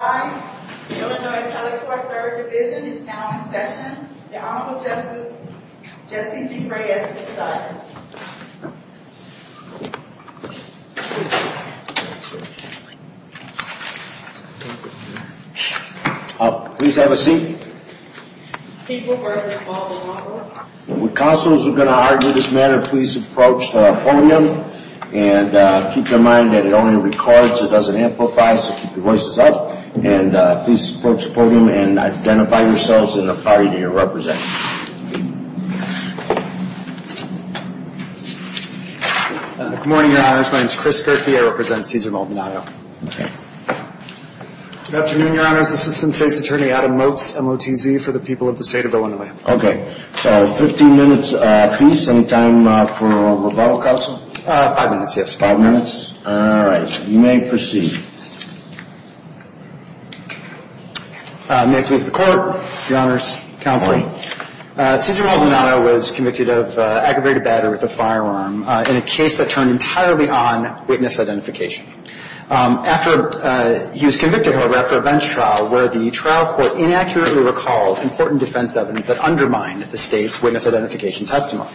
Hi, Illinois Telecord 3rd Division is now in session. The Honorable Justice Jesse D. Reyes is silent. Please have a seat. People versus Maldonado. When counsels are going to argue this matter, please approach the podium. And keep in mind that it only records, it doesn't amplify, so keep your voices up. And please approach the podium and identify yourselves and the party that you represent. Good morning, Your Honors. My name is Chris Gerke. I represent Cesar Maldonado. Good afternoon, Your Honors. Assistant State's Attorney Adam Motz, MOTZ, for the people of the state of Illinois. Okay. So 15 minutes apiece. Any time for rebuttal, counsel? Five minutes, yes. Five minutes. All right. You may proceed. May it please the Court, Your Honors, counsel. Good morning. Cesar Maldonado was convicted of aggravated battery with a firearm in a case that turned entirely on witness identification. After he was convicted, however, after a bench trial where the trial court inaccurately recalled important defense evidence that undermined the State's witness identification testimony.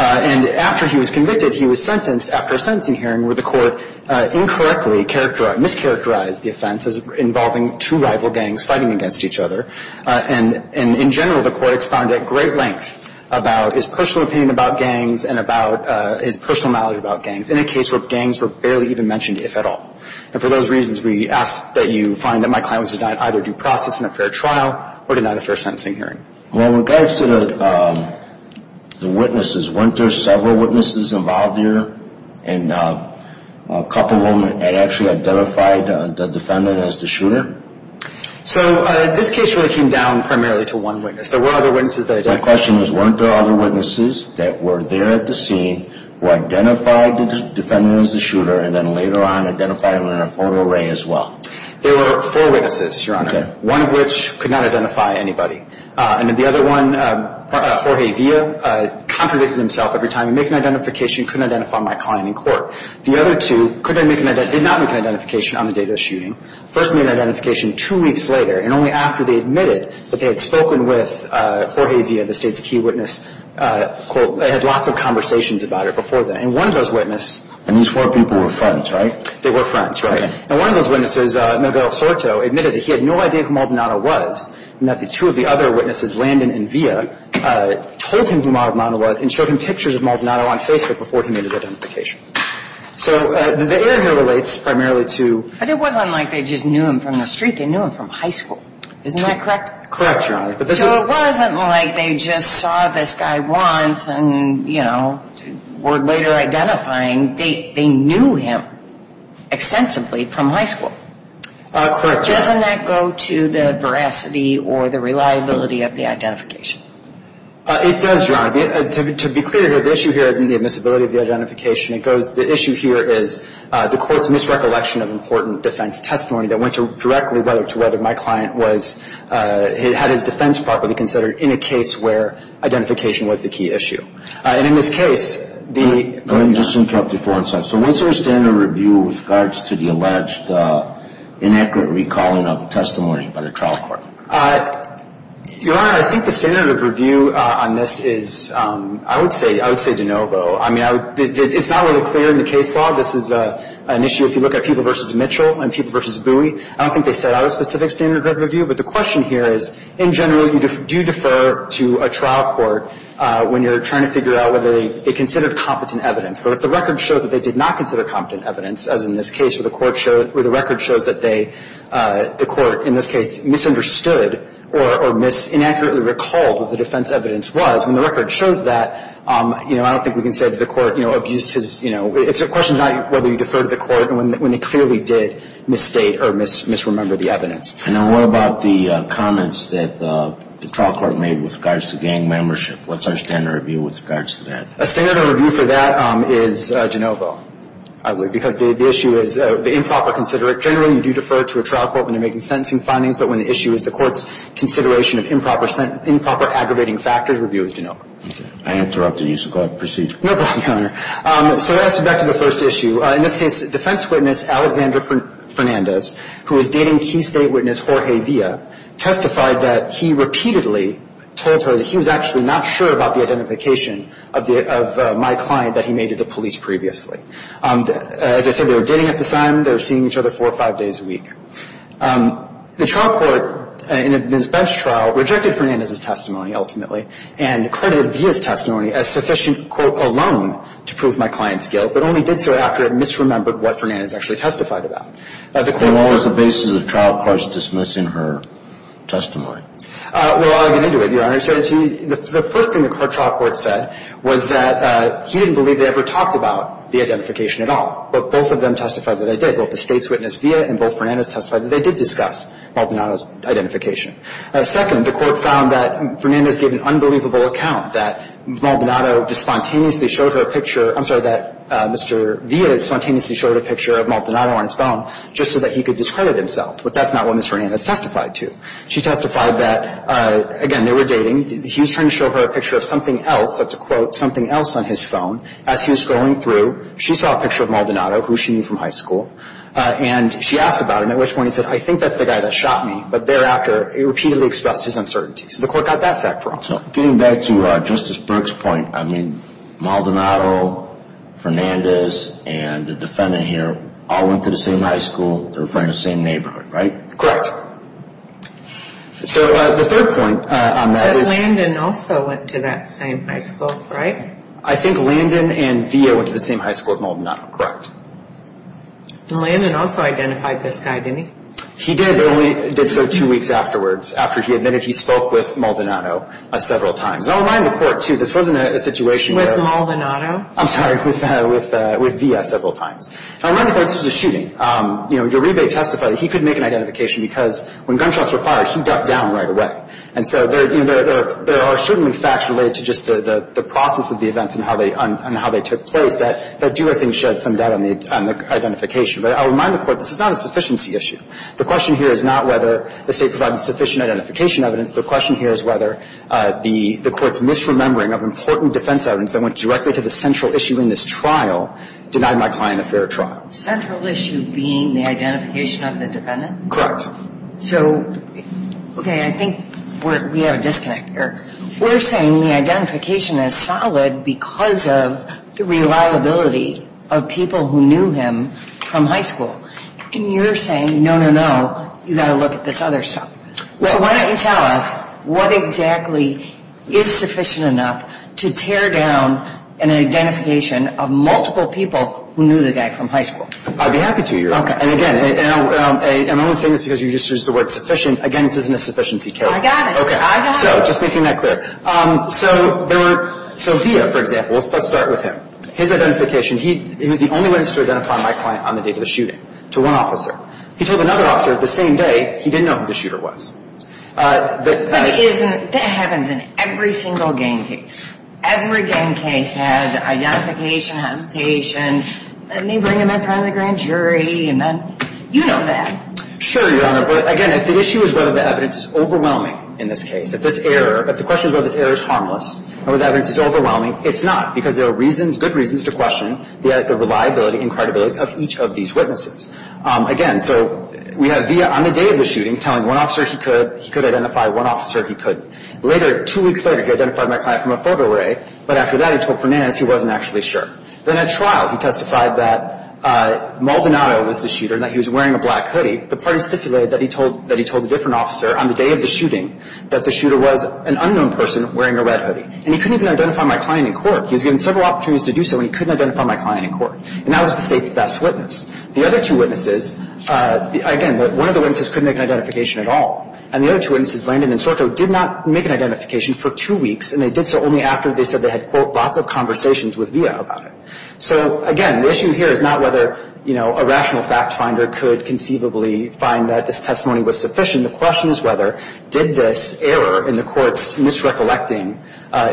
And after he was convicted, he was sentenced after a sentencing hearing where the court incorrectly characterized, mischaracterized the offense as involving two rival gangs fighting against each other. And in general, the court expounded at great length about his personal opinion about gangs and about his personal knowledge about gangs in a case where gangs were barely even mentioned, if at all. And for those reasons, we ask that you find that my client was denied either due process in a fair trial or denied a fair sentencing hearing. Well, in regards to the witnesses, weren't there several witnesses involved there? And a couple of them had actually identified the defendant as the shooter? So this case really came down primarily to one witness. There were other witnesses that identified. My question is, weren't there other witnesses that were there at the scene who identified the defendant as the shooter and then later on identified him in a photo array as well? There were four witnesses, Your Honor. Okay. One of which could not identify anybody. And then the other one, Jorge Villa, contradicted himself every time. He'd make an identification, couldn't identify my client in court. The other two did not make an identification on the day of the shooting. First made an identification two weeks later, and only after they admitted that they had spoken with Jorge Villa, the State's key witness, quote, they had lots of conversations about her before then. And one of those witnesses... And these four people were friends, right? They were friends, right. And one of those witnesses, Miguel Soto, admitted that he had no idea who Maldonado was and that the two of the other witnesses, Landon and Villa, told him who Maldonado was and showed him pictures of Maldonado on Facebook before he made his identification. So the error here relates primarily to... But it wasn't like they just knew him from the street. They knew him from high school. Isn't that correct? Correct, Your Honor. So it wasn't like they just saw this guy once and, you know, were later identifying. They knew him extensively from high school. Correct, Your Honor. Doesn't that go to the veracity or the reliability of the identification? It does, Your Honor. To be clear, the issue here isn't the admissibility of the identification. The issue here is the court's misrecollection of important defense testimony that went directly to whether my client had his defense properly considered in a case where identification was the key issue. And in this case, the... Let me just interrupt you for a second. So what's your standard of review with regards to the alleged inaccurate recalling of testimony by the trial court? Your Honor, I think the standard of review on this is, I would say de novo. I mean, it's not really clear in the case law. This is an issue if you look at Peeble v. Mitchell and Peeble v. Bowie. I don't think they set out a specific standard of review, but the question here is in general you do defer to a trial court when you're trying to figure out whether they considered competent evidence. But if the record shows that they did not consider competent evidence, as in this case, or the record shows that they, the court in this case, misunderstood or inaccurately recalled what the defense evidence was, when the record shows that, you know, I don't think we can say that the court, you know, abused his, you know, it's a question of whether you defer to the court when they clearly did misstate or misremember the evidence. And then what about the comments that the trial court made with regards to gang membership? What's our standard of review with regards to that? A standard of review for that is de novo, I believe, because the issue is the improper considerate. Generally, you do defer to a trial court when you're making sentencing findings, but when the issue is the court's consideration of improper aggravating factors, review is de novo. Okay. I interrupted. You should go ahead and proceed. No problem, Your Honor. So that's back to the first issue. In this case, defense witness Alexander Fernandez, who was dating key state witness Jorge Villa, testified that he repeatedly told her that he was actually not sure about the identification of my client that he made to the police previously. As I said, they were dating at the time. They were seeing each other four or five days a week. The trial court, in this bench trial, rejected Fernandez's testimony ultimately and credited Villa's testimony as sufficient, quote, alone to prove my client's guilt, but only did so after it misremembered what Fernandez actually testified about. And what was the basis of trial court's dismissing her testimony? Well, I'll get into it, Your Honor. The first thing the trial court said was that he didn't believe they ever talked about the identification at all. But both of them testified that they did. Both the state's witness Villa and both Fernandez testified that they did discuss Maldonado's identification. Second, the court found that Fernandez gave an unbelievable account, that Maldonado just spontaneously showed her a picture. I'm sorry, that Mr. Villa spontaneously showed a picture of Maldonado on his phone just so that he could discredit himself. But that's not what Ms. Fernandez testified to. She testified that, again, they were dating. He was trying to show her a picture of something else. That's a quote, something else on his phone. As he was scrolling through, she saw a picture of Maldonado, who she knew from high school, and she asked about him, at which point he said, I think that's the guy that shot me. But thereafter, he repeatedly expressed his uncertainty. So the court got that fact wrong. So getting back to Justice Burke's point, I mean, Maldonado, Fernandez, and the defendant here all went to the same high school. They were from the same neighborhood, right? Correct. So the third point on that is – But Landon also went to that same high school, right? I think Landon and Villa went to the same high school as Maldonado. Correct. And Landon also identified this guy, didn't he? He did, but only did so two weeks afterwards, after he admitted he spoke with Maldonado several times. And I'll remind the court, too, this wasn't a situation where – With Maldonado? I'm sorry, with Villa several times. And I'll remind the court this was a shooting. Uribe testified that he could make an identification because when gunshots were fired, he ducked down right away. And so there are certainly facts related to just the process of the events and how they took place that do, I think, shed some doubt on the identification. But I'll remind the court this is not a sufficiency issue. The question here is not whether the State provided sufficient identification evidence. The question here is whether the Court's misremembering of important defense evidence that went directly to the central issue in this trial denied my client a fair trial. Central issue being the identification of the defendant? Correct. So, okay, I think we have a disconnect here. We're saying the identification is solid because of the reliability of people who knew him from high school. And you're saying, no, no, no, you've got to look at this other stuff. So why don't you tell us what exactly is sufficient enough to tear down an identification of multiple people who knew the guy from high school? I'd be happy to, Uribe. Okay. And, again, I'm only saying this because you used the word sufficient. Again, this isn't a sufficiency case. I got it. Okay. I got it. So just making that clear. So Villa, for example, let's start with him. His identification, he was the only one who was able to identify my client on the date of the shooting to one officer. He told another officer the same day he didn't know who the shooter was. But that happens in every single gang case. Every gang case has identification hesitation. And they bring him in front of the grand jury. You know that. Sure, Your Honor. But, again, if the issue is whether the evidence is overwhelming in this case, if this error, if the question is whether this error is harmless, or whether the evidence is overwhelming, it's not. Because there are reasons, good reasons, to question the reliability and credibility of each of these witnesses. Again, so we have Villa on the day of the shooting telling one officer he could, he could identify one officer he couldn't. Later, two weeks later, he identified my client from a photo array. But after that, he told Fernandez he wasn't actually sure. Then at trial, he testified that Maldonado was the shooter and that he was wearing a black hoodie. The parties stipulated that he told a different officer on the day of the shooting that the shooter was an unknown person wearing a red hoodie. And he couldn't even identify my client in court. He was given several opportunities to do so, and he couldn't identify my client in court. And that was the State's best witness. The other two witnesses, again, one of the witnesses couldn't make an identification at all. And the other two witnesses, Landon and Sorto, did not make an identification for two weeks. And they did so only after they said they had, quote, lots of conversations with Villa about it. So, again, the issue here is not whether, you know, a rational fact finder could conceivably find that this testimony was sufficient. The question is whether, did this error in the Court's misrecollecting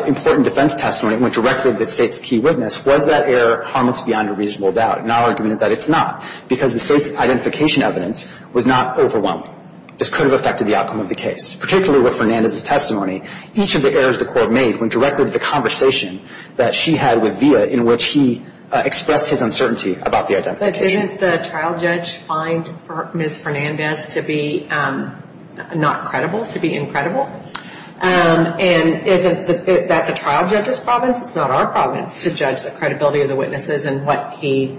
important defense testimony that went directly to the State's key witness, was that error harmless beyond a reasonable doubt? And our argument is that it's not, because the State's identification evidence was not overwhelming. This could have affected the outcome of the case. Particularly with Fernandez's testimony, each of the errors the Court made went directly to the conversation that she had with Villa in which he expressed his uncertainty about the identification. But didn't the trial judge find Ms. Fernandez to be not credible, to be incredible? And isn't that the trial judge's province? It's not our province to judge the credibility of the witnesses and what he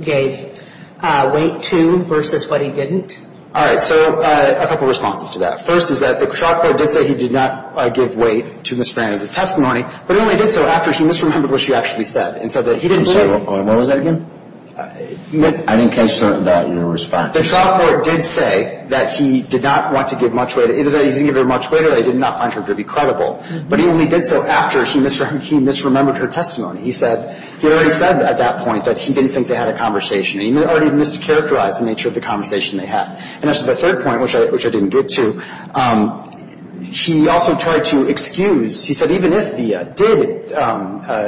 gave weight to versus what he didn't. All right. So a couple responses to that. First is that the trial court did say he did not give weight to Ms. Fernandez's testimony, but he only did so after he misremembered what she actually said and said that he didn't believe. What was that again? I didn't catch that in your response. The trial court did say that he did not want to give much weight. Either that he didn't give her much weight or that he did not find her to be credible. But he only did so after he misremembered her testimony. He said, he already said at that point that he didn't think they had a conversation. He already mischaracterized the nature of the conversation they had. And that's the third point, which I didn't get to. He also tried to excuse. He said even if he did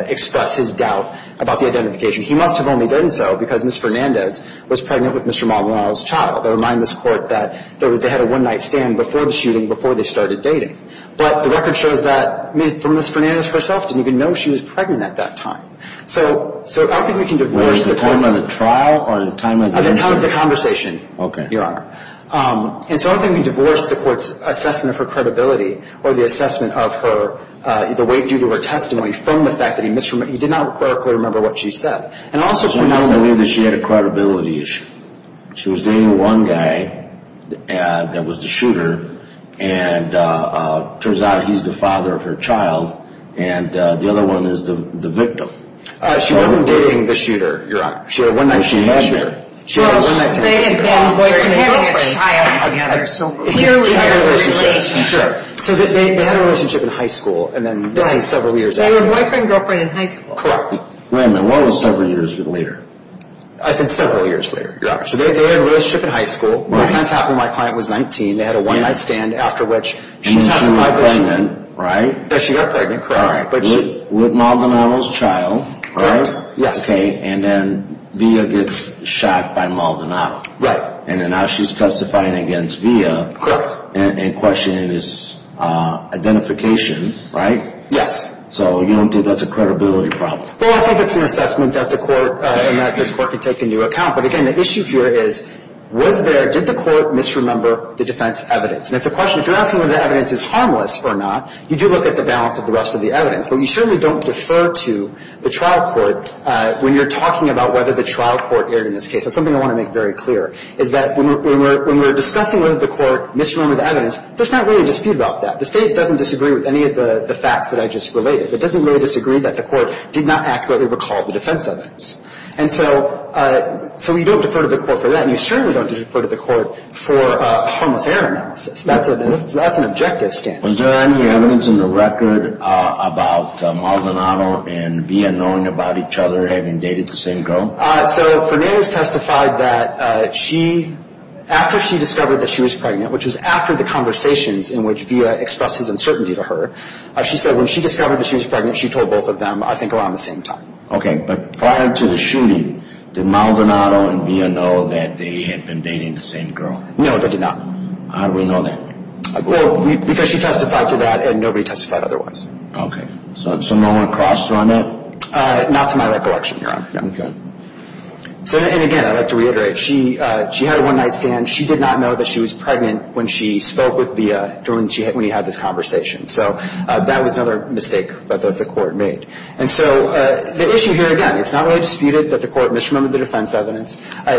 express his doubt about the identification, he must have only done so because Ms. Fernandez was pregnant with Mr. Maldonado's child. I remind this court that they had a one-night stand before the shooting before they started dating. But the record shows that Ms. Fernandez herself didn't even know she was pregnant at that time. So I think we can divorce the time. Was it the time of the trial or the time of the interview? The time of the conversation, Your Honor. And so I think we divorce the court's assessment of her credibility or the assessment of her, the weight due to her testimony from the fact that he misremembered, he did not clerically remember what she said. And also to know that she had a credibility issue. She was dating one guy that was the shooter. And it turns out he's the father of her child. And the other one is the victim. She had a one-night stand. Well, they had been boyfriend and girlfriend. They're having a child together. So clearly there's a relationship. Sure. So they had a relationship in high school and then this is several years after. They were boyfriend and girlfriend in high school. Correct. Wait a minute. What was several years later? I said several years later. Yeah. So they had a relationship in high school. Right. That's happened when my client was 19. They had a one-night stand after which she was pregnant, right? Yes, she got pregnant, correct. All right. With Maldonado's child. Correct. Yes. Okay, and then Via gets shot by Maldonado. Right. And then now she's testifying against Via. Correct. And questioning his identification, right? Yes. So you don't think that's a credibility problem? Well, I think it's an assessment that the court and that this court can take into account. But, again, the issue here is was there, did the court misremember the defense evidence? And if the question, if you're asking whether the evidence is harmless or not, you do look at the balance of the rest of the evidence. But you certainly don't defer to the trial court when you're talking about whether the trial court erred in this case. That's something I want to make very clear, is that when we're discussing whether the court misremembered the evidence, there's not really a dispute about that. The State doesn't disagree with any of the facts that I just related. It doesn't really disagree that the court did not accurately recall the defense evidence. And so you don't defer to the court for that. And you certainly don't defer to the court for a harmless error analysis. That's an objective standard. Was there any evidence in the record about Maldonado and Villa knowing about each other having dated the same girl? So Fernandez testified that she, after she discovered that she was pregnant, which was after the conversations in which Villa expressed his uncertainty to her, she said when she discovered that she was pregnant, she told both of them, I think, around the same time. Okay. But prior to the shooting, did Maldonado and Villa know that they had been dating the same girl? No, they did not. How do we know that? Well, because she testified to that and nobody testified otherwise. Okay. So no one crossed on it? Not to my recollection, Your Honor. Okay. And again, I'd like to reiterate, she had a one-night stand. She did not know that she was pregnant when she spoke with Villa when he had this conversation. So that was another mistake that the court made. And so the issue here, again, it's not really disputed that the court misremembered the defense evidence. I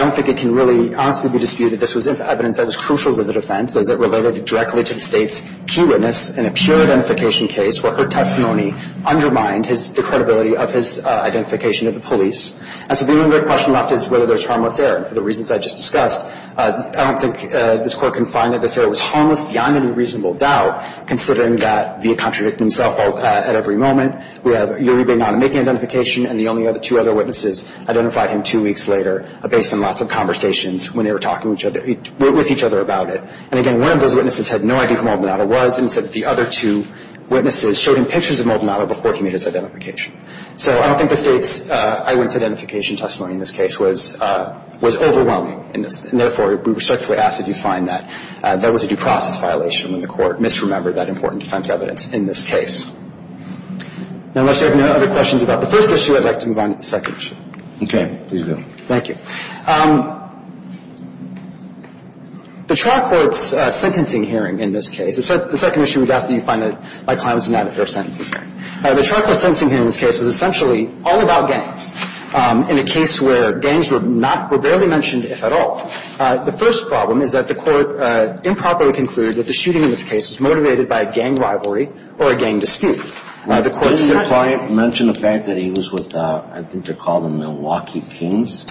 don't think it can really honestly be disputed that this was evidence that was crucial to the defense as it related directly to the State's key witness in a pure identification case where her testimony undermined the credibility of his identification to the police. And so the only question left is whether there's harmless error. And for the reasons I just discussed, I don't think this Court can find that this error was harmless beyond any reasonable doubt, considering that Villa contradicted himself at every moment. We have Uri being on and making identification, and the only other two other witnesses identified him two weeks later, based on lots of conversations when they were talking with each other about it. And again, one of those witnesses had no idea who Maldonado was and said that the other two witnesses showed him pictures of Maldonado before he made his identification. So I don't think the State's eyewitness identification testimony in this case was overwhelming. And therefore, we respectfully ask that you find that that was a due process violation when the court misremembered that important defense evidence in this case. Now, unless there are no other questions about the first issue, I'd like to move on to the second issue. Okay. Please do. Thank you. The trial court's sentencing hearing in this case, the second issue we'd ask that you find that, by Climson, not a fair sentencing hearing. The trial court's sentencing hearing in this case was essentially all about gangs, in a case where gangs were not, were barely mentioned, if at all. The first problem is that the court improperly concluded that the shooting in this case was motivated by a gang rivalry or a gang dispute. The court's sentencing hearing. Didn't your client mention the fact that he was with, I think they're called the Milwaukee Kings?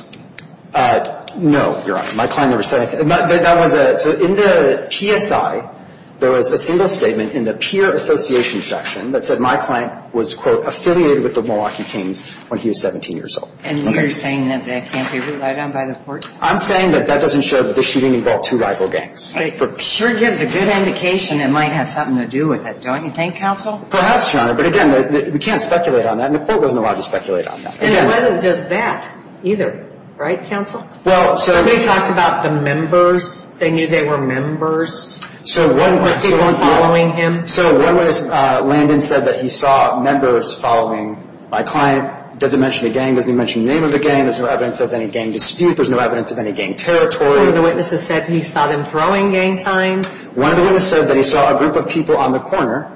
No, Your Honor. My client never said anything. That was a, so in the PSI, there was a single statement in the peer association section that said my client was, quote, affiliated with the Milwaukee Kings when he was 17 years old. And you're saying that that can't be relied on by the court? I'm saying that that doesn't show that the shooting involved two rival gangs. It sure gives a good indication it might have something to do with it. Don't you think, counsel? Perhaps, Your Honor. But again, we can't speculate on that. And the court wasn't allowed to speculate on that. And it wasn't just that either. Right, counsel? Somebody talked about the members. They knew they were members. There were people following him. So one witness, Landon, said that he saw members following my client. Doesn't mention a gang. Doesn't even mention the name of the gang. There's no evidence of any gang dispute. There's no evidence of any gang territory. One of the witnesses said he saw them throwing gang signs. One of the witnesses said that he saw a group of people on the corner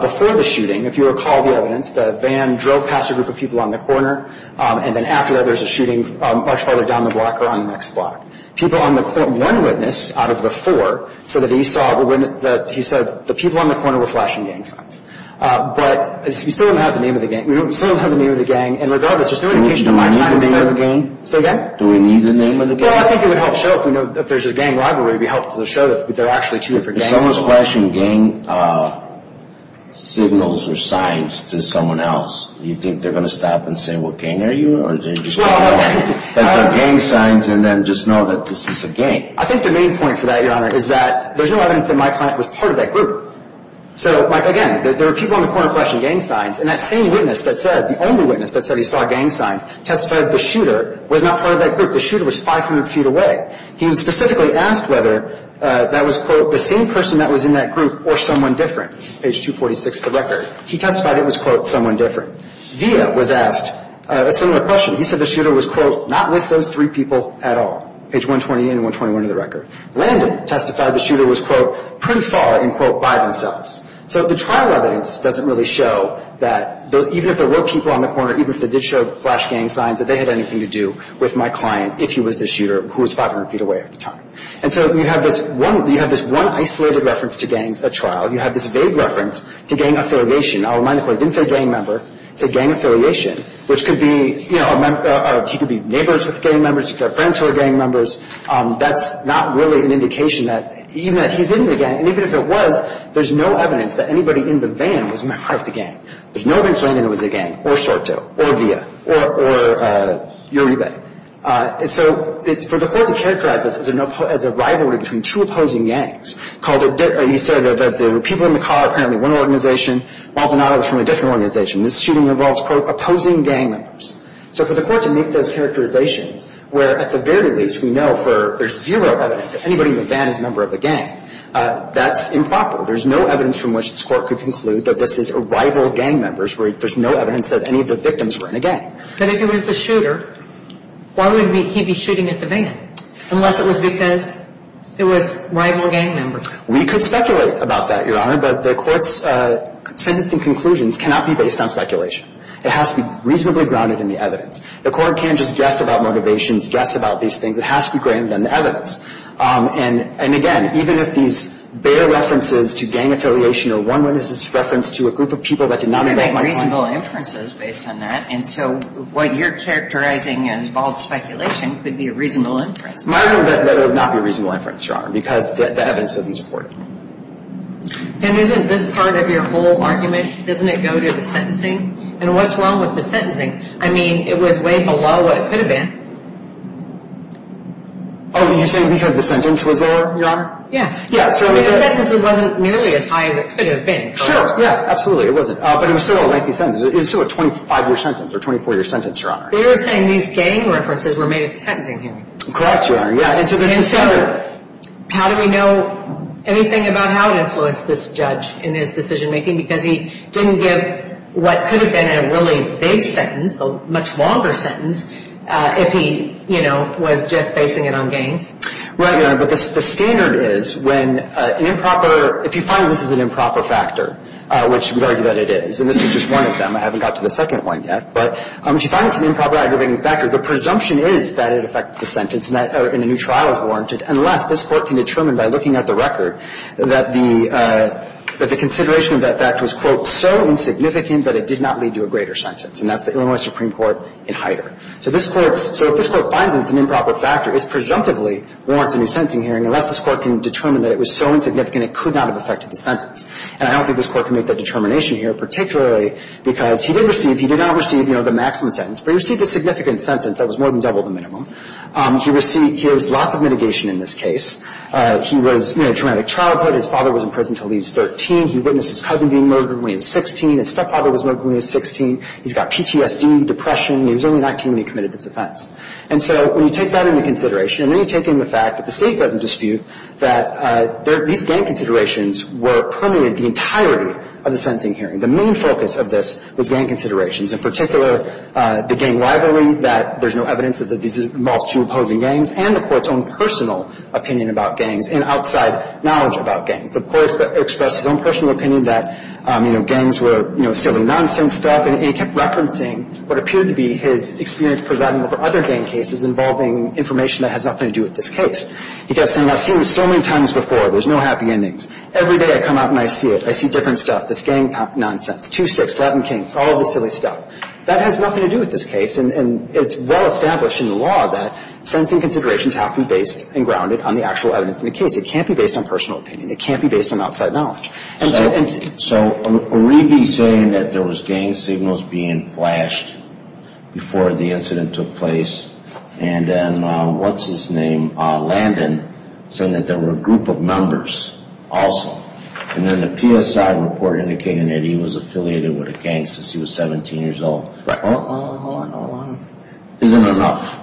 before the shooting. If you recall the evidence, the van drove past a group of people on the corner. And then after that, there's a shooting much farther down the block or on the next block. One witness out of the four said that he saw the people on the corner were flashing gang signs. But we still don't have the name of the gang. We still don't have the name of the gang. And regardless, there's no indication of my client's name. Do we need the name of the gang? Say again? Do we need the name of the gang? Well, I think it would help show if there's a gang rivalry, it would help to show that there are actually two different gangs involved. If someone's flashing gang signals or signs to someone else, do you think they're going to stop and say, what gang are you? Or are they just going to take their gang signs and then just know that this is a gang? I think the main point for that, Your Honor, is that there's no evidence that my client was part of that group. So, like, again, there were people on the corner flashing gang signs. And that same witness that said, the only witness that said he saw gang signs, testified that the shooter was not part of that group. The shooter was 500 feet away. He was specifically asked whether that was, quote, the same person that was in that group or someone different. This is page 246 of the record. He testified it was, quote, someone different. Villa was asked a similar question. He said the shooter was, quote, not with those three people at all. Page 128 and 121 of the record. Landon testified the shooter was, quote, pretty far and, quote, by themselves. So the trial evidence doesn't really show that even if there were people on the corner, even if they did show flash gang signs, that they had anything to do with my client if he was the shooter who was 500 feet away at the time. And so you have this one isolated reference to gangs at trial. You have this vague reference to gang affiliation. I'll remind the Court, he didn't say gang member. He said gang affiliation, which could be, you know, he could be neighbors with gang members. He could have friends who are gang members. That's not really an indication that even if he's in the gang, and even if it was, there's no evidence that anybody in the van was part of the gang. There's no evidence that anybody in the van was a gang, or Sorto, or Villa, or Uribe. And so for the Court to characterize this as a rivalry between two opposing gangs, he said that there were people in the car, apparently one organization. Maldonado was from a different organization. This shooting involves, quote, opposing gang members. So for the Court to make those characterizations where at the very least we know there's zero evidence that anybody in the van is a member of the gang, that's improper. There's no evidence from which this Court could conclude that this is a rival gang member. There's no evidence that any of the victims were in a gang. But if it was the shooter, why would he be shooting at the van? Unless it was because it was rival gang members. We could speculate about that, Your Honor, but the Court's sentencing conclusions cannot be based on speculation. It has to be reasonably grounded in the evidence. The Court can't just guess about motivations, guess about these things. It has to be grounded in the evidence. And, again, even if these bare references to gang affiliation or one witness's reference to a group of people that did not invite my client. You can make reasonable inferences based on that, and so what you're characterizing as bald speculation could be a reasonable inference. My argument is that it would not be a reasonable inference, Your Honor, because the evidence doesn't support it. And isn't this part of your whole argument, doesn't it go to the sentencing? And what's wrong with the sentencing? I mean, it was way below what it could have been. Oh, you're saying because the sentence was lower, Your Honor? Yeah. The sentence wasn't nearly as high as it could have been. Sure, yeah, absolutely. It wasn't, but it was still a lengthy sentence. It was still a 25-year sentence or a 24-year sentence, Your Honor. But you're saying these gang references were made at the sentencing hearing. Correct, Your Honor, yeah. And so how do we know anything about how it influenced this judge in his decision-making? Because he didn't give what could have been a really big sentence, a much longer sentence, if he, you know, was just basing it on gangs. Right, Your Honor. But the standard is when an improper – if you find this is an improper factor, which we'd argue that it is, and this is just one of them. I haven't got to the second one yet. But if you find it's an improper aggravating factor, the presumption is that it affected the sentence and a new trial is warranted, unless this Court can determine by looking at the record that the consideration of that fact was, quote, so insignificant that it did not lead to a greater sentence. And that's the Illinois Supreme Court in Hyder. So this Court's – so if this Court finds it's an improper factor, it presumptively warrants a new sentencing hearing, unless this Court can determine that it was so insignificant it could not have affected the sentence. And I don't think this Court can make that determination here, particularly because he did receive – he did not receive, you know, the maximum sentence, but he received a significant sentence that was more than double the minimum. He received – he received lots of mitigation in this case. He was, you know, traumatic childhood. His father was in prison until he was 13. He witnessed his cousin being murdered when he was 16. His stepfather was murdered when he was 16. He's got PTSD, depression. He was only 19 when he committed this offense. And so when you take that into consideration, and then you take in the fact that the State doesn't dispute that these gang considerations were permeated the entirety of the sentencing hearing. The main focus of this was gang considerations, in particular the gang rivalry, that there's no evidence that this involves two opposing gangs, and the Court's own personal opinion about gangs and outside knowledge about gangs. So the Court expressed his own personal opinion that, you know, gangs were, you know, silly nonsense stuff, and he kept referencing what appeared to be his experience presiding over other gang cases involving information that has nothing to do with this case. He kept saying, I've seen this so many times before. There's no happy endings. Every day I come out and I see it. I see different stuff. This gang nonsense. 2-6, Latin Kings, all of this silly stuff. That has nothing to do with this case, and it's well established in the law that sentencing considerations have to be based and grounded on the actual evidence in the case. It can't be based on personal opinion. It can't be based on outside knowledge. So are we saying that there was gang signals being flashed before the incident took place, and then what's his name, Landon, saying that there were a group of members also, and then the PSI report indicating that he was affiliated with a gang since he was 17 years old. Right. Hold on, hold on, hold on. Isn't it enough?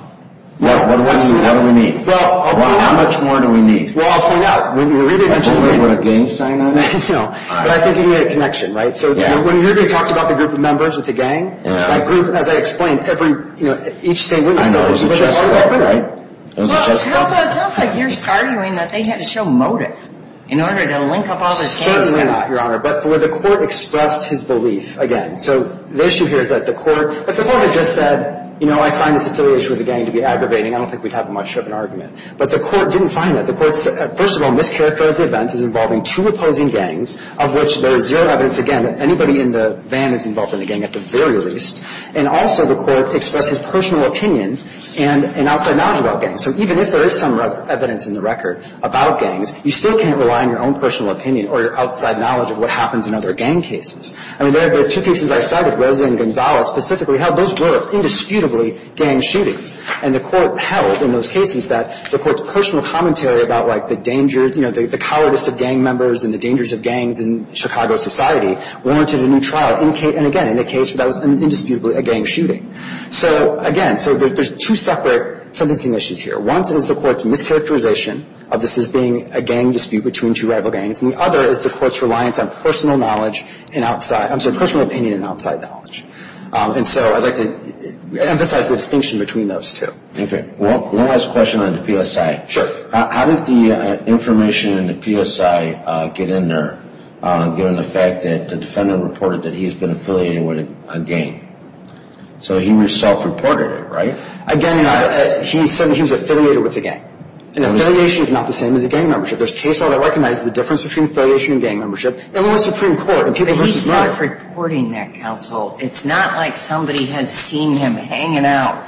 What do we need? How much more do we need? Well, I'll point out, when you really mention the name of a gang sign on it, but I think you need a connection, right? So when you really talked about the group of members of the gang, as I explained, each state witnessed it. It sounds like you're arguing that they had to show motive in order to link up all this gang stuff. Certainly not, Your Honor. But the court expressed his belief, again. So the issue here is that the court, if the court had just said, you know, I signed this affiliation with a gang to be aggravating, I don't think we'd have much of an argument. But the court didn't find that. The court, first of all, mischaracterized the event as involving two opposing gangs, of which there is zero evidence, again, that anybody in the van is involved in the gang at the very least. And also, the court expressed his personal opinion and an outside knowledge about gangs. So even if there is some evidence in the record about gangs, you still can't rely on your own personal opinion or your outside knowledge of what happens in other gang cases. I mean, there are two cases I saw with Rosa and Gonzalez specifically held. Those were indisputably gang shootings. And the court held in those cases that the court's personal commentary about, like, the dangers, you know, the cowardice of gang members and the dangers of gangs in Chicago society warranted a new trial. And, again, in a case where that was indisputably a gang shooting. So, again, so there's two separate sentencing issues here. One is the court's mischaracterization of this as being a gang dispute between two rival gangs. And the other is the court's reliance on personal knowledge and outside – I'm sorry, personal opinion and outside knowledge. And so I'd like to emphasize the distinction between those two. Okay. One last question on the PSI. Sure. How did the information in the PSI get in there, given the fact that the defendant reported that he has been affiliated with a gang? So he self-reported it, right? Again, he said that he was affiliated with the gang. And affiliation is not the same as a gang membership. There's case law that recognizes the difference between affiliation and gang membership. They're in the Supreme Court. But he's self-reporting that, counsel. It's not like somebody has seen him hanging out.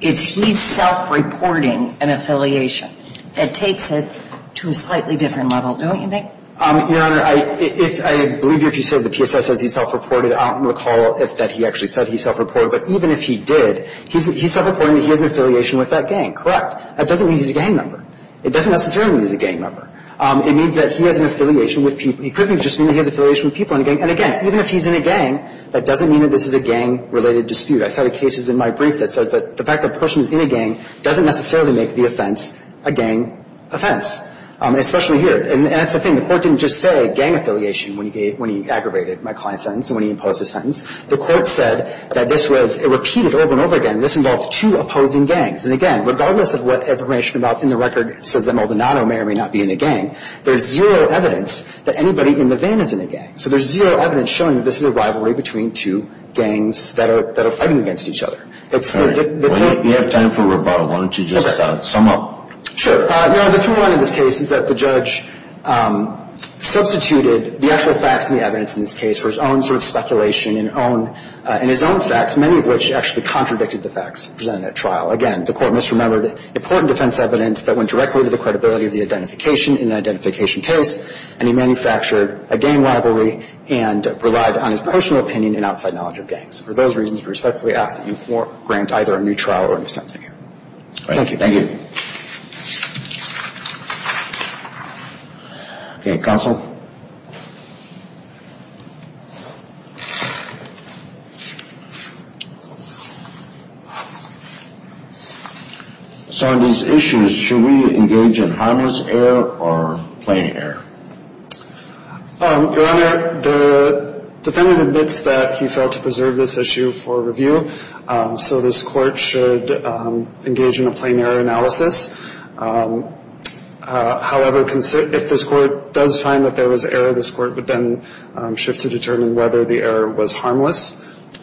It's he's self-reporting an affiliation. It takes it to a slightly different level, don't you think? Your Honor, I believe if he says the PSI says he self-reported, I'll recall if that he actually said he self-reported. But even if he did, he's self-reporting that he has an affiliation with that gang. Correct. That doesn't mean he's a gang member. It doesn't necessarily mean he's a gang member. It means that he has an affiliation with people. He could just mean that he has an affiliation with people in a gang. And again, even if he's in a gang, that doesn't mean that this is a gang-related dispute. I saw the cases in my brief that says that the fact that a person is in a gang doesn't necessarily make the offense a gang offense, especially here. And that's the thing. The Court didn't just say gang affiliation when he aggravated my client's sentence and when he imposed his sentence. The Court said that this was repeated over and over again. This involved two opposing gangs. And again, regardless of what information in the record says that Maldonado may or may So there's zero evidence showing that this is a rivalry between two gangs that are fighting against each other. Well, you have time for a rebuttal. Why don't you just sum up? Sure. No, the thing about this case is that the judge substituted the actual facts and the evidence in this case for his own sort of speculation and his own facts, many of which actually contradicted the facts presented at trial. Again, the Court misremembered important defense evidence that went directly to the and relied on his personal opinion and outside knowledge of gangs. For those reasons, we respectfully ask that you grant either a new trial or new sentencing here. Thank you. Thank you. Okay. Counsel? So on these issues, should we engage in harmless error or plain error? Your Honor, the defendant admits that he failed to preserve this issue for review. So this Court should engage in a plain error analysis. However, if this Court does find that there was error, this Court would then shift to determine whether the error was harmless.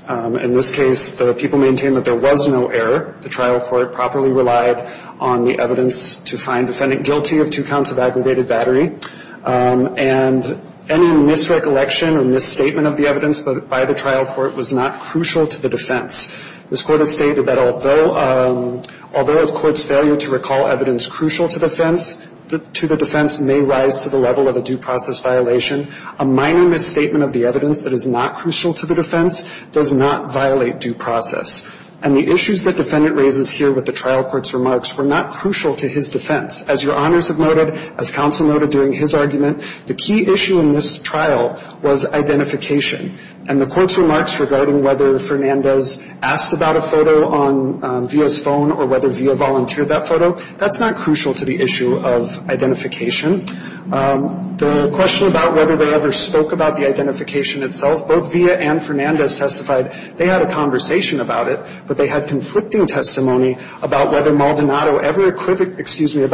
In this case, the people maintain that there was no error. The trial court properly relied on the evidence to find defendant guilty of two counts of aggravated battery. And any misrecollection or misstatement of the evidence by the trial court was not crucial to the defense. This Court has stated that although the Court's failure to recall evidence crucial to the defense may rise to the level of a due process violation, a minor misstatement of the evidence that is not crucial to the defense does not violate due process. And the issues that defendant raises here with the trial court's remarks were not crucial to his defense. As Your Honors have noted, as counsel noted during his argument, the key issue in this trial was identification. And the Court's remarks regarding whether Fernandez asked about a photo on Villa's phone or whether Villa volunteered that photo, that's not crucial to the issue of identification. The question about whether they ever spoke about the identification itself, both Villa and Fernandez testified they had a conversation about it, but they had conflicting testimony about whether Maldonado ever equivocated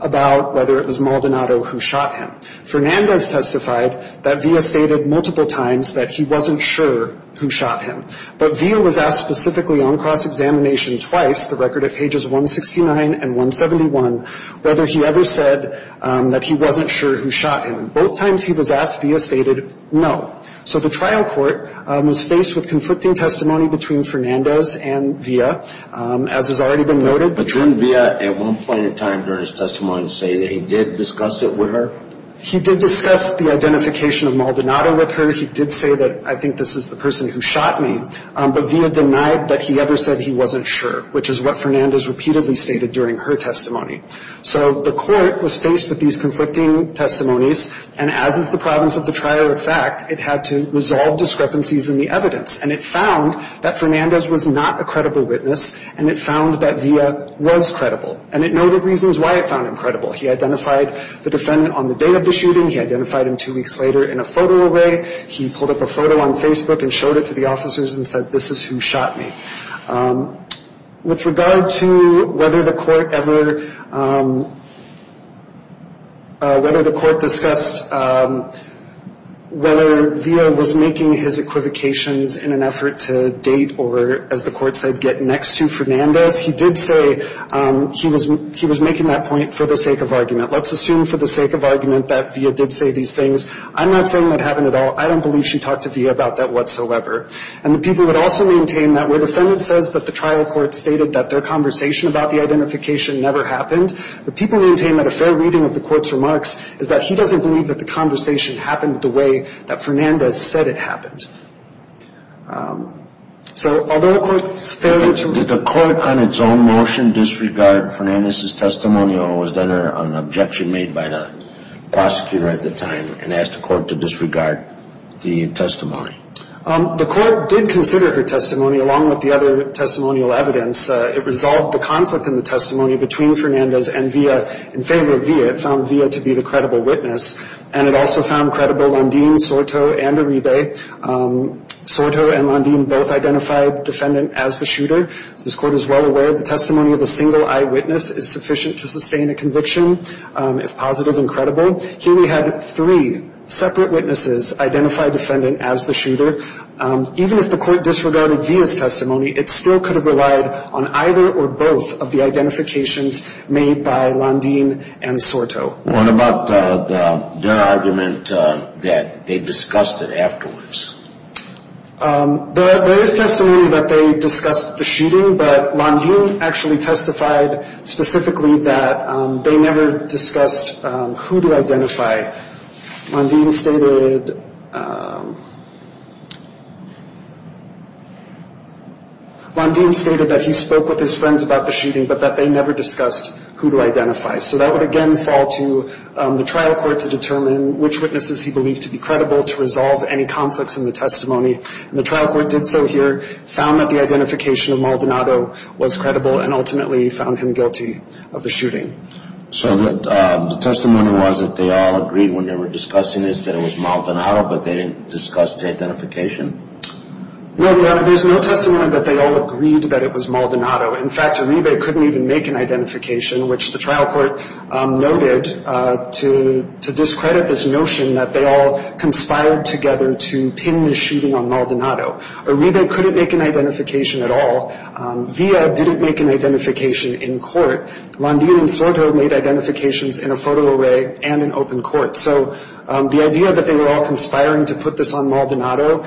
about whether it was Maldonado who shot him. Fernandez testified that Villa stated multiple times that he wasn't sure who shot him. But Villa was asked specifically on cross-examination twice, the record at pages 169 and 171, whether he ever said that he wasn't sure who shot him. Both times he was asked, Villa stated no. So the trial court was faced with conflicting testimony between Fernandez and Villa, as has already been noted. But didn't Villa at one point in time during his testimony say that he did discuss it with her? He did discuss the identification of Maldonado with her. He did say that I think this is the person who shot me. But Villa denied that he ever said he wasn't sure, which is what Fernandez repeatedly stated during her testimony. So the court was faced with these conflicting testimonies. And as is the province of the trier of fact, it had to resolve discrepancies in the evidence. And it found that Fernandez was not a credible witness, and it found that Villa was credible. And it noted reasons why it found him credible. He identified the defendant on the day of the shooting. He identified him two weeks later in a photo array. He pulled up a photo on Facebook and showed it to the officers and said, this is who shot me. With regard to whether the court ever discussed whether Villa was making his equivocations in an effort to date or, as the court said, get next to Fernandez, he did say he was making that point for the sake of argument. Let's assume for the sake of argument that Villa did say these things. I'm not saying that happened at all. I don't believe she talked to Villa about that whatsoever. And the people would also maintain that where the defendant says that the trial court stated that their conversation about the identification never happened, the people maintain that a fair reading of the court's remarks is that he doesn't believe that the conversation happened the way that Fernandez said it happened. So although the court's failure to ---- Did the court on its own motion disregard Fernandez's testimony or was there an objection made by the prosecutor at the time and asked the court to disregard the testimony? The court did consider her testimony along with the other testimonial evidence. It resolved the conflict in the testimony between Fernandez and Villa in favor of Villa. It found Villa to be the credible witness. And it also found credible Landin, Soto, and Uribe. Soto and Landin both identified the defendant as the shooter. As this court is well aware, the testimony of a single eyewitness is sufficient to sustain a conviction if positive and credible. Here we had three separate witnesses identify the defendant as the shooter. Even if the court disregarded Villa's testimony, it still could have relied on either or both of the identifications made by Landin and Soto. What about their argument that they discussed it afterwards? There is testimony that they discussed the shooting, but Landin actually testified specifically that they never discussed who to identify. Landin stated that he spoke with his friends about the shooting, but that they never discussed who to identify. So that would again fall to the trial court to determine which witnesses he believed to be credible to resolve any conflicts in the testimony. And the trial court did so here, found that the identification of Maldonado was credible, and ultimately found him guilty of the shooting. So the testimony was that they all agreed when they were discussing this that it was Maldonado, but they didn't discuss the identification? No, Your Honor. There's no testimony that they all agreed that it was Maldonado. In fact, Uribe couldn't even make an identification, which the trial court noted to discredit this notion that they all conspired together to pin the shooting on Maldonado. Uribe couldn't make an identification at all. Villa didn't make an identification in court. Landin and Soto made identifications in a photo array and in open court. So the idea that they were all conspiring to put this on Maldonado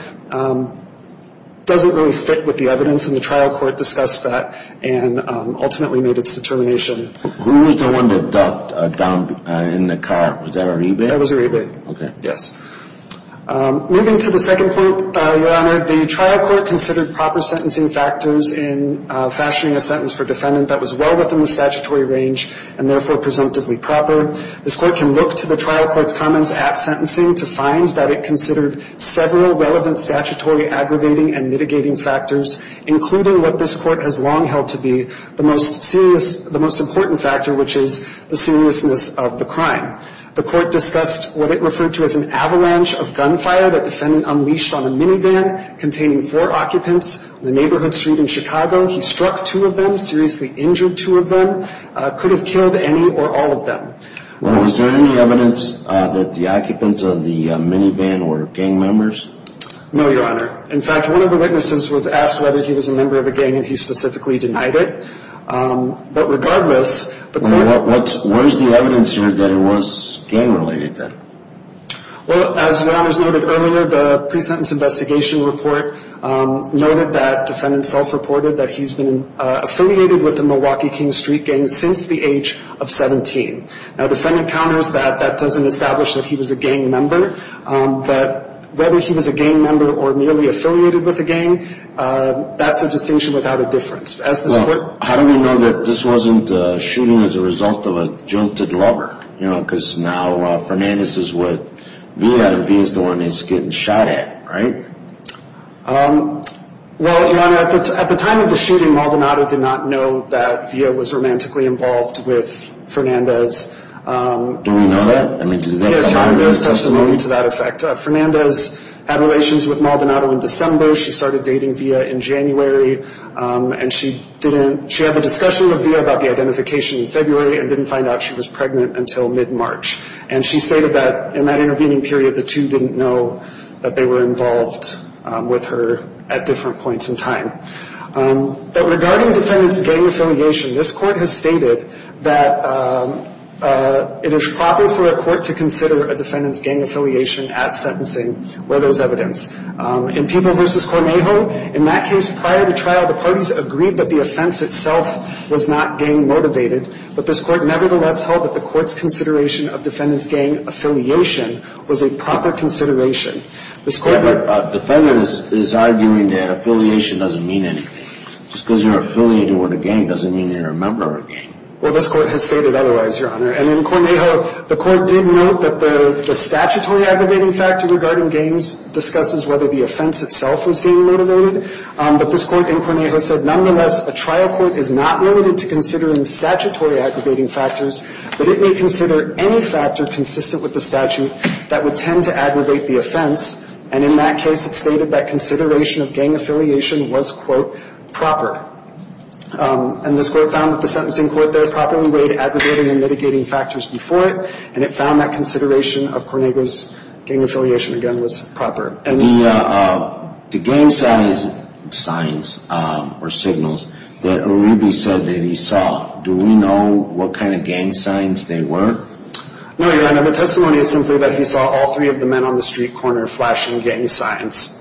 doesn't really fit with the evidence, and the trial court discussed that and ultimately made its determination. Who was the one that ducked down in the car? Was that Uribe? That was Uribe. Okay. Yes. Moving to the second point, Your Honor, the trial court considered proper sentencing factors in fashioning a sentence for defendant that was well within the statutory range and therefore presumptively proper. This court can look to the trial court's comments at sentencing to find that it considered several relevant statutory aggravating and mitigating factors, including what this court has long held to be the most serious – the most important factor, which is the seriousness of the crime. The court discussed what it referred to as an avalanche of gunfire that defendant unleashed on a minivan containing four occupants on a neighborhood street in Chicago. He struck two of them, seriously injured two of them, could have killed any or all of them. Well, is there any evidence that the occupants of the minivan were gang members? No, Your Honor. In fact, one of the witnesses was asked whether he was a member of a gang, and he specifically denied it. But regardless, the court – Well, what's – where's the evidence here that it was gang-related then? Well, as Your Honor's noted earlier, the pre-sentence investigation report noted that defendant self-reported that he's been affiliated with the Milwaukee King Street Gang since the age of 17. Now, defendant counters that that doesn't establish that he was a gang member. But whether he was a gang member or merely affiliated with a gang, that's a distinction without a difference. Well, how do we know that this wasn't a shooting as a result of a jilted lover? You know, because now Fernandez is with Villa and Villa's the one he's getting shot at, right? Well, Your Honor, at the time of the shooting, Maldonado did not know that Villa was romantically involved with Fernandez. Do we know that? Yes, Your Honor, there's testimony to that effect. Fernandez had relations with Maldonado in December. She started dating Villa in January, and she didn't – she had a discussion with Villa about the identification in February and didn't find out she was pregnant until mid-March. And she stated that in that intervening period, the two didn't know that they were involved with her at different points in time. But regarding defendant's gang affiliation, this Court has stated that it is proper for a court to consider a defendant's gang affiliation at sentencing where there's evidence. In Peeble v. Cornejo, in that case, prior to trial, the parties agreed that the offense itself was not gang-motivated. But this Court nevertheless held that the Court's consideration of defendant's gang affiliation was a proper consideration. Yeah, but defendant is arguing that affiliation doesn't mean anything. Just because you're affiliated with a gang doesn't mean you're a member of a gang. Well, this Court has stated otherwise, Your Honor. And in Cornejo, the Court did note that the statutory aggravating factor regarding gangs discusses whether the offense itself was gang-motivated. But this Court in Cornejo said, nonetheless, a trial court is not limited to considering statutory aggravating factors, but it may consider any factor consistent with the statute that would tend to aggravate the offense. And in that case, it stated that consideration of gang affiliation was, quote, proper. And this Court found that the sentencing court there properly weighed aggravating and mitigating factors before it, and it found that consideration of Cornejo's gang affiliation, again, was proper. The gang signs or signals that Uribe said that he saw, do we know what kind of gang signs they were? No, Your Honor. The testimony is simply that he saw all three of the men on the street corner flashing gang signs.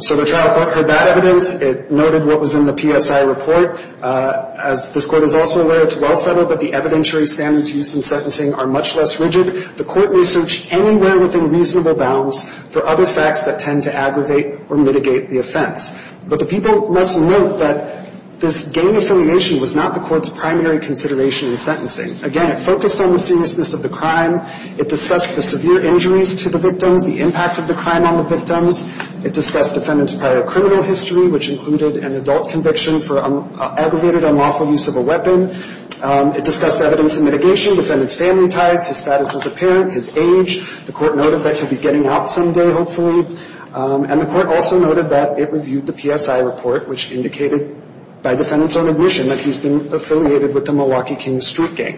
So the trial court heard that evidence. It noted what was in the PSI report. As this Court is also aware, it's well settled that the evidentiary standards used in sentencing are much less rigid. The Court researched anywhere within reasonable bounds for other facts that tend to aggravate or mitigate the offense. But the people must note that this gang affiliation was not the Court's primary consideration in sentencing. Again, it focused on the seriousness of the crime. It discussed the severe injuries to the victims, the impact of the crime on the victims. It discussed the defendant's prior criminal history, which included an adult conviction for aggravated unlawful use of a weapon. It discussed evidence of mitigation, defendant's family ties, his status as a parent, his age. The Court noted that he'll be getting out someday, hopefully. And the Court also noted that it reviewed the PSI report, which indicated by defendant's own admission that he's been affiliated with the Milwaukee Kings Street Gang.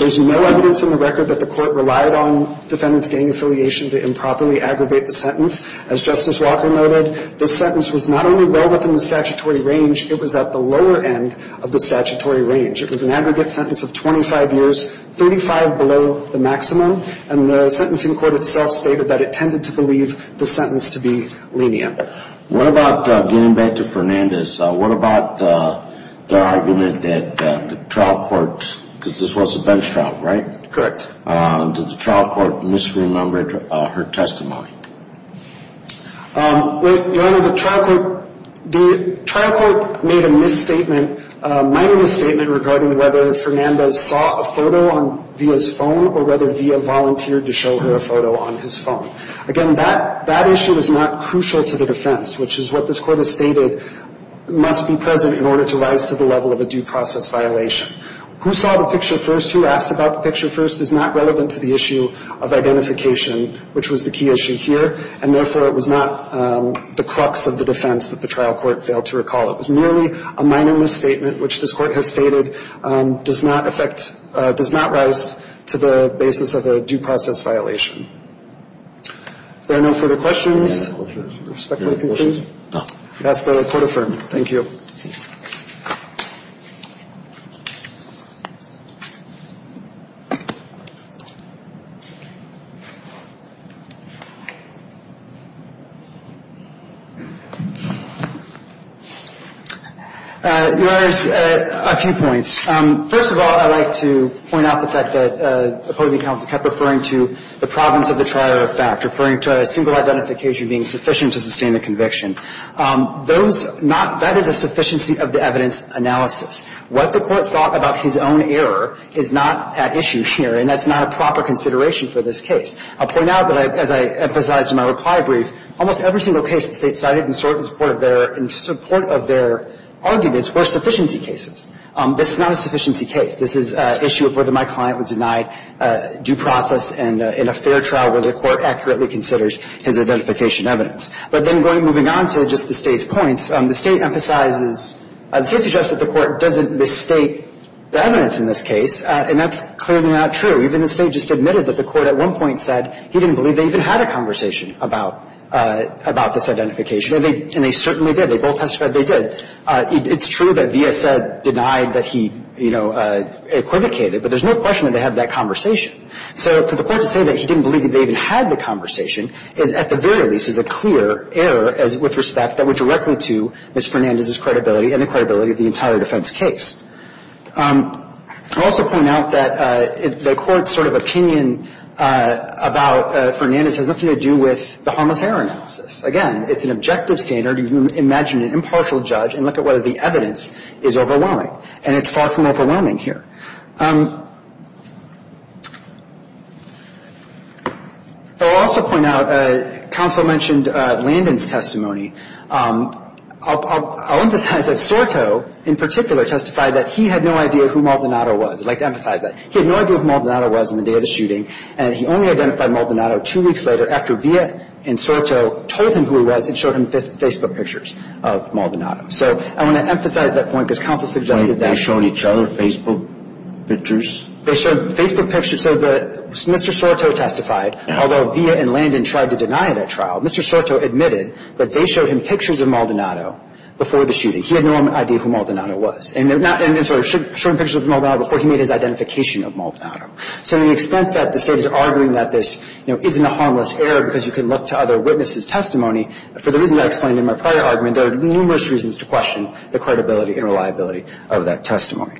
There's no evidence in the record that the Court relied on defendant's gang affiliation to improperly aggravate the sentence. As Justice Walker noted, this sentence was not only well within the statutory range, it was at the lower end of the statutory range. It was an aggregate sentence of 25 years, 35 below the maximum. And the sentencing court itself stated that it tended to believe the sentence to be lenient. What about, getting back to Fernandez, what about the argument that the trial court, because this was a bench trial, right? Correct. Did the trial court misremember her testimony? Your Honor, the trial court, the trial court made a misstatement, minor misstatement regarding whether Fernandez saw a photo on Villa's phone or whether Villa volunteered to show her a photo on his phone. Again, that issue is not crucial to the defense, which is what this Court has stated must be present in order to rise to the level of a due process violation. Who saw the picture first, who asked about the picture first is not relevant to the issue of identification, which was the key issue here, and therefore it was not the crux of the defense that the trial court failed to recall. It was merely a minor misstatement, which this Court has stated does not affect, does not rise to the basis of a due process violation. If there are no further questions, respectfully conclude. Thank you. That's the court affirmed. Thank you. Your Honor, a few points. First of all, I'd like to point out the fact that opposing counsel kept referring to the province of the trial of fact, referring to a single identification being sufficient to sustain the conviction. That is a sufficiency of the evidence analysis. What the Court thought about his own error is not at issue here, and that's not a proper consideration for this case. I'll point out that, as I emphasized in my reply brief, almost every single case the State cited in support of their arguments were sufficiency cases. This is not a sufficiency case. This is an issue of whether my client was denied due process in a fair trial where the Court accurately considers his identification evidence. But then moving on to just the State's points, the State emphasizes, the State suggests that the Court doesn't misstate the evidence in this case, and that's clearly not true. Even the State just admitted that the Court at one point said he didn't believe they even had a conversation about this identification, and they certainly did. They both testified they did. It's true that the S.A. denied that he, you know, equivocated, but there's no question that they had that conversation. So for the Court to say that he didn't believe that they even had the conversation is, at the very least, is a clear error with respect that went directly to Ms. Fernandez's credibility and the credibility of the entire defense case. I'll also point out that the Court's sort of opinion about Fernandez has nothing to do with the harmless error analysis. Again, it's an objective standard. You can imagine an impartial judge and look at whether the evidence is overwhelming, and it's far from overwhelming here. I'll also point out, counsel mentioned Landon's testimony. I'll emphasize that Soto in particular testified that he had no idea who Maldonado was. I'd like to emphasize that. He had no idea who Maldonado was on the day of the shooting, and he only identified Maldonado two weeks later after Villa and Soto told him who he was and showed him Facebook pictures of Maldonado. So I want to emphasize that point because counsel suggested that. They showed each other Facebook pictures? They showed Facebook pictures. So Mr. Soto testified, although Villa and Landon tried to deny that trial, Mr. Soto admitted that they showed him pictures of Maldonado before the shooting. He had no idea who Maldonado was. And so he showed him pictures of Maldonado before he made his identification of Maldonado. So to the extent that the State is arguing that this isn't a harmless error because you can look to other witnesses' testimony, for the reasons I explained in my prior argument, there are numerous reasons to question the credibility and reliability of that testimony.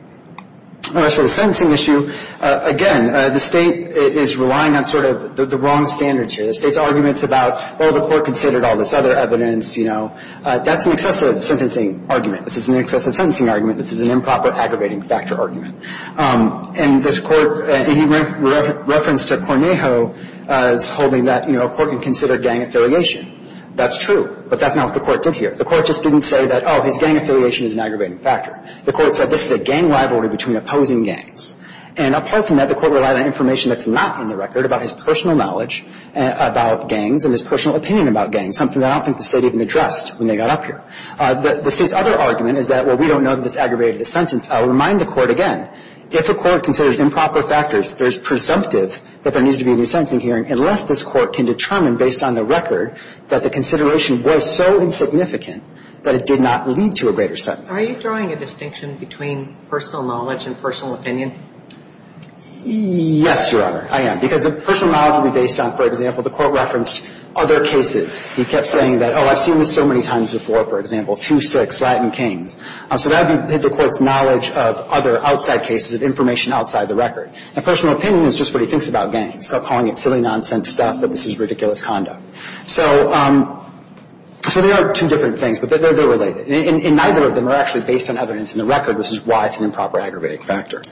As for the sentencing issue, again, the State is relying on sort of the wrong standards here. The State's arguments about, well, the court considered all this other evidence, you know, that's an excessive sentencing argument. This is an excessive sentencing argument. This is an improper aggravating factor argument. And this Court, and he referenced to Cornejo as holding that, you know, a court can consider gang affiliation. That's true, but that's not what the Court did here. The Court just didn't say that, oh, his gang affiliation is an aggravating factor. The Court said this is a gang rivalry between opposing gangs. And apart from that, the Court relied on information that's not in the record about his personal knowledge about gangs and his personal opinion about gangs, something I don't think the State even addressed when they got up here. The State's other argument is that, well, we don't know that this aggravated the sentence. I'll remind the Court again, if a court considers improper factors, there's presumptive that there needs to be a new sentencing hearing unless this Court can determine based on the record that the consideration was so insignificant that it did not lead to a greater sentence. Are you drawing a distinction between personal knowledge and personal opinion? Yes, Your Honor, I am. Because the personal knowledge would be based on, for example, the Court referenced other cases. He kept saying that, oh, I've seen this so many times before, for example, 2-6, Latin So that would be the Court's knowledge of other outside cases, of information outside the record. And personal opinion is just what he thinks about gangs. Stop calling it silly nonsense stuff, that this is ridiculous conduct. So there are two different things, but they're related. And neither of them are actually based on evidence in the record, which is why it's an improper aggravating factor.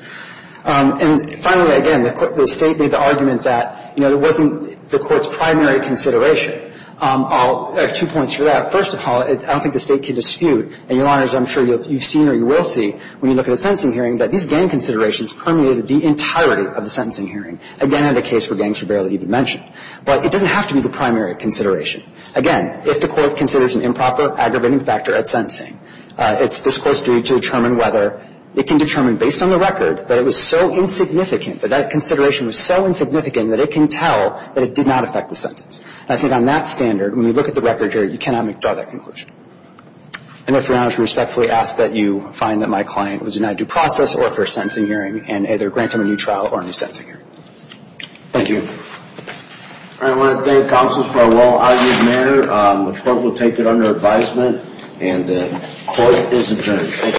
And finally, again, the State made the argument that, you know, it wasn't the Court's primary consideration. I'll add two points to that. First of all, I don't think the State can dispute, and Your Honors, I'm sure you've seen or you will see, when you look at a sentencing hearing, that these gang considerations permeated the entirety of the sentencing hearing. Again, in the case where gangs were barely even mentioned. But it doesn't have to be the primary consideration. Again, if the Court considers an improper aggravating factor at sentencing, it's this Court's duty to determine whether it can determine, based on the record, that it was so insignificant, that that consideration was so insignificant that it can tell that it did not affect the sentence. And I think on that standard, when you look at the record here, you cannot withdraw that conclusion. And Your Honors, I respectfully ask that you find that my client was denied due process or for a sentencing hearing, and either grant him a new trial or a new sentencing hearing. Thank you. All right. I want to thank counsels for a well-argued matter. The Court will take it under advisement, and the Court is adjourned.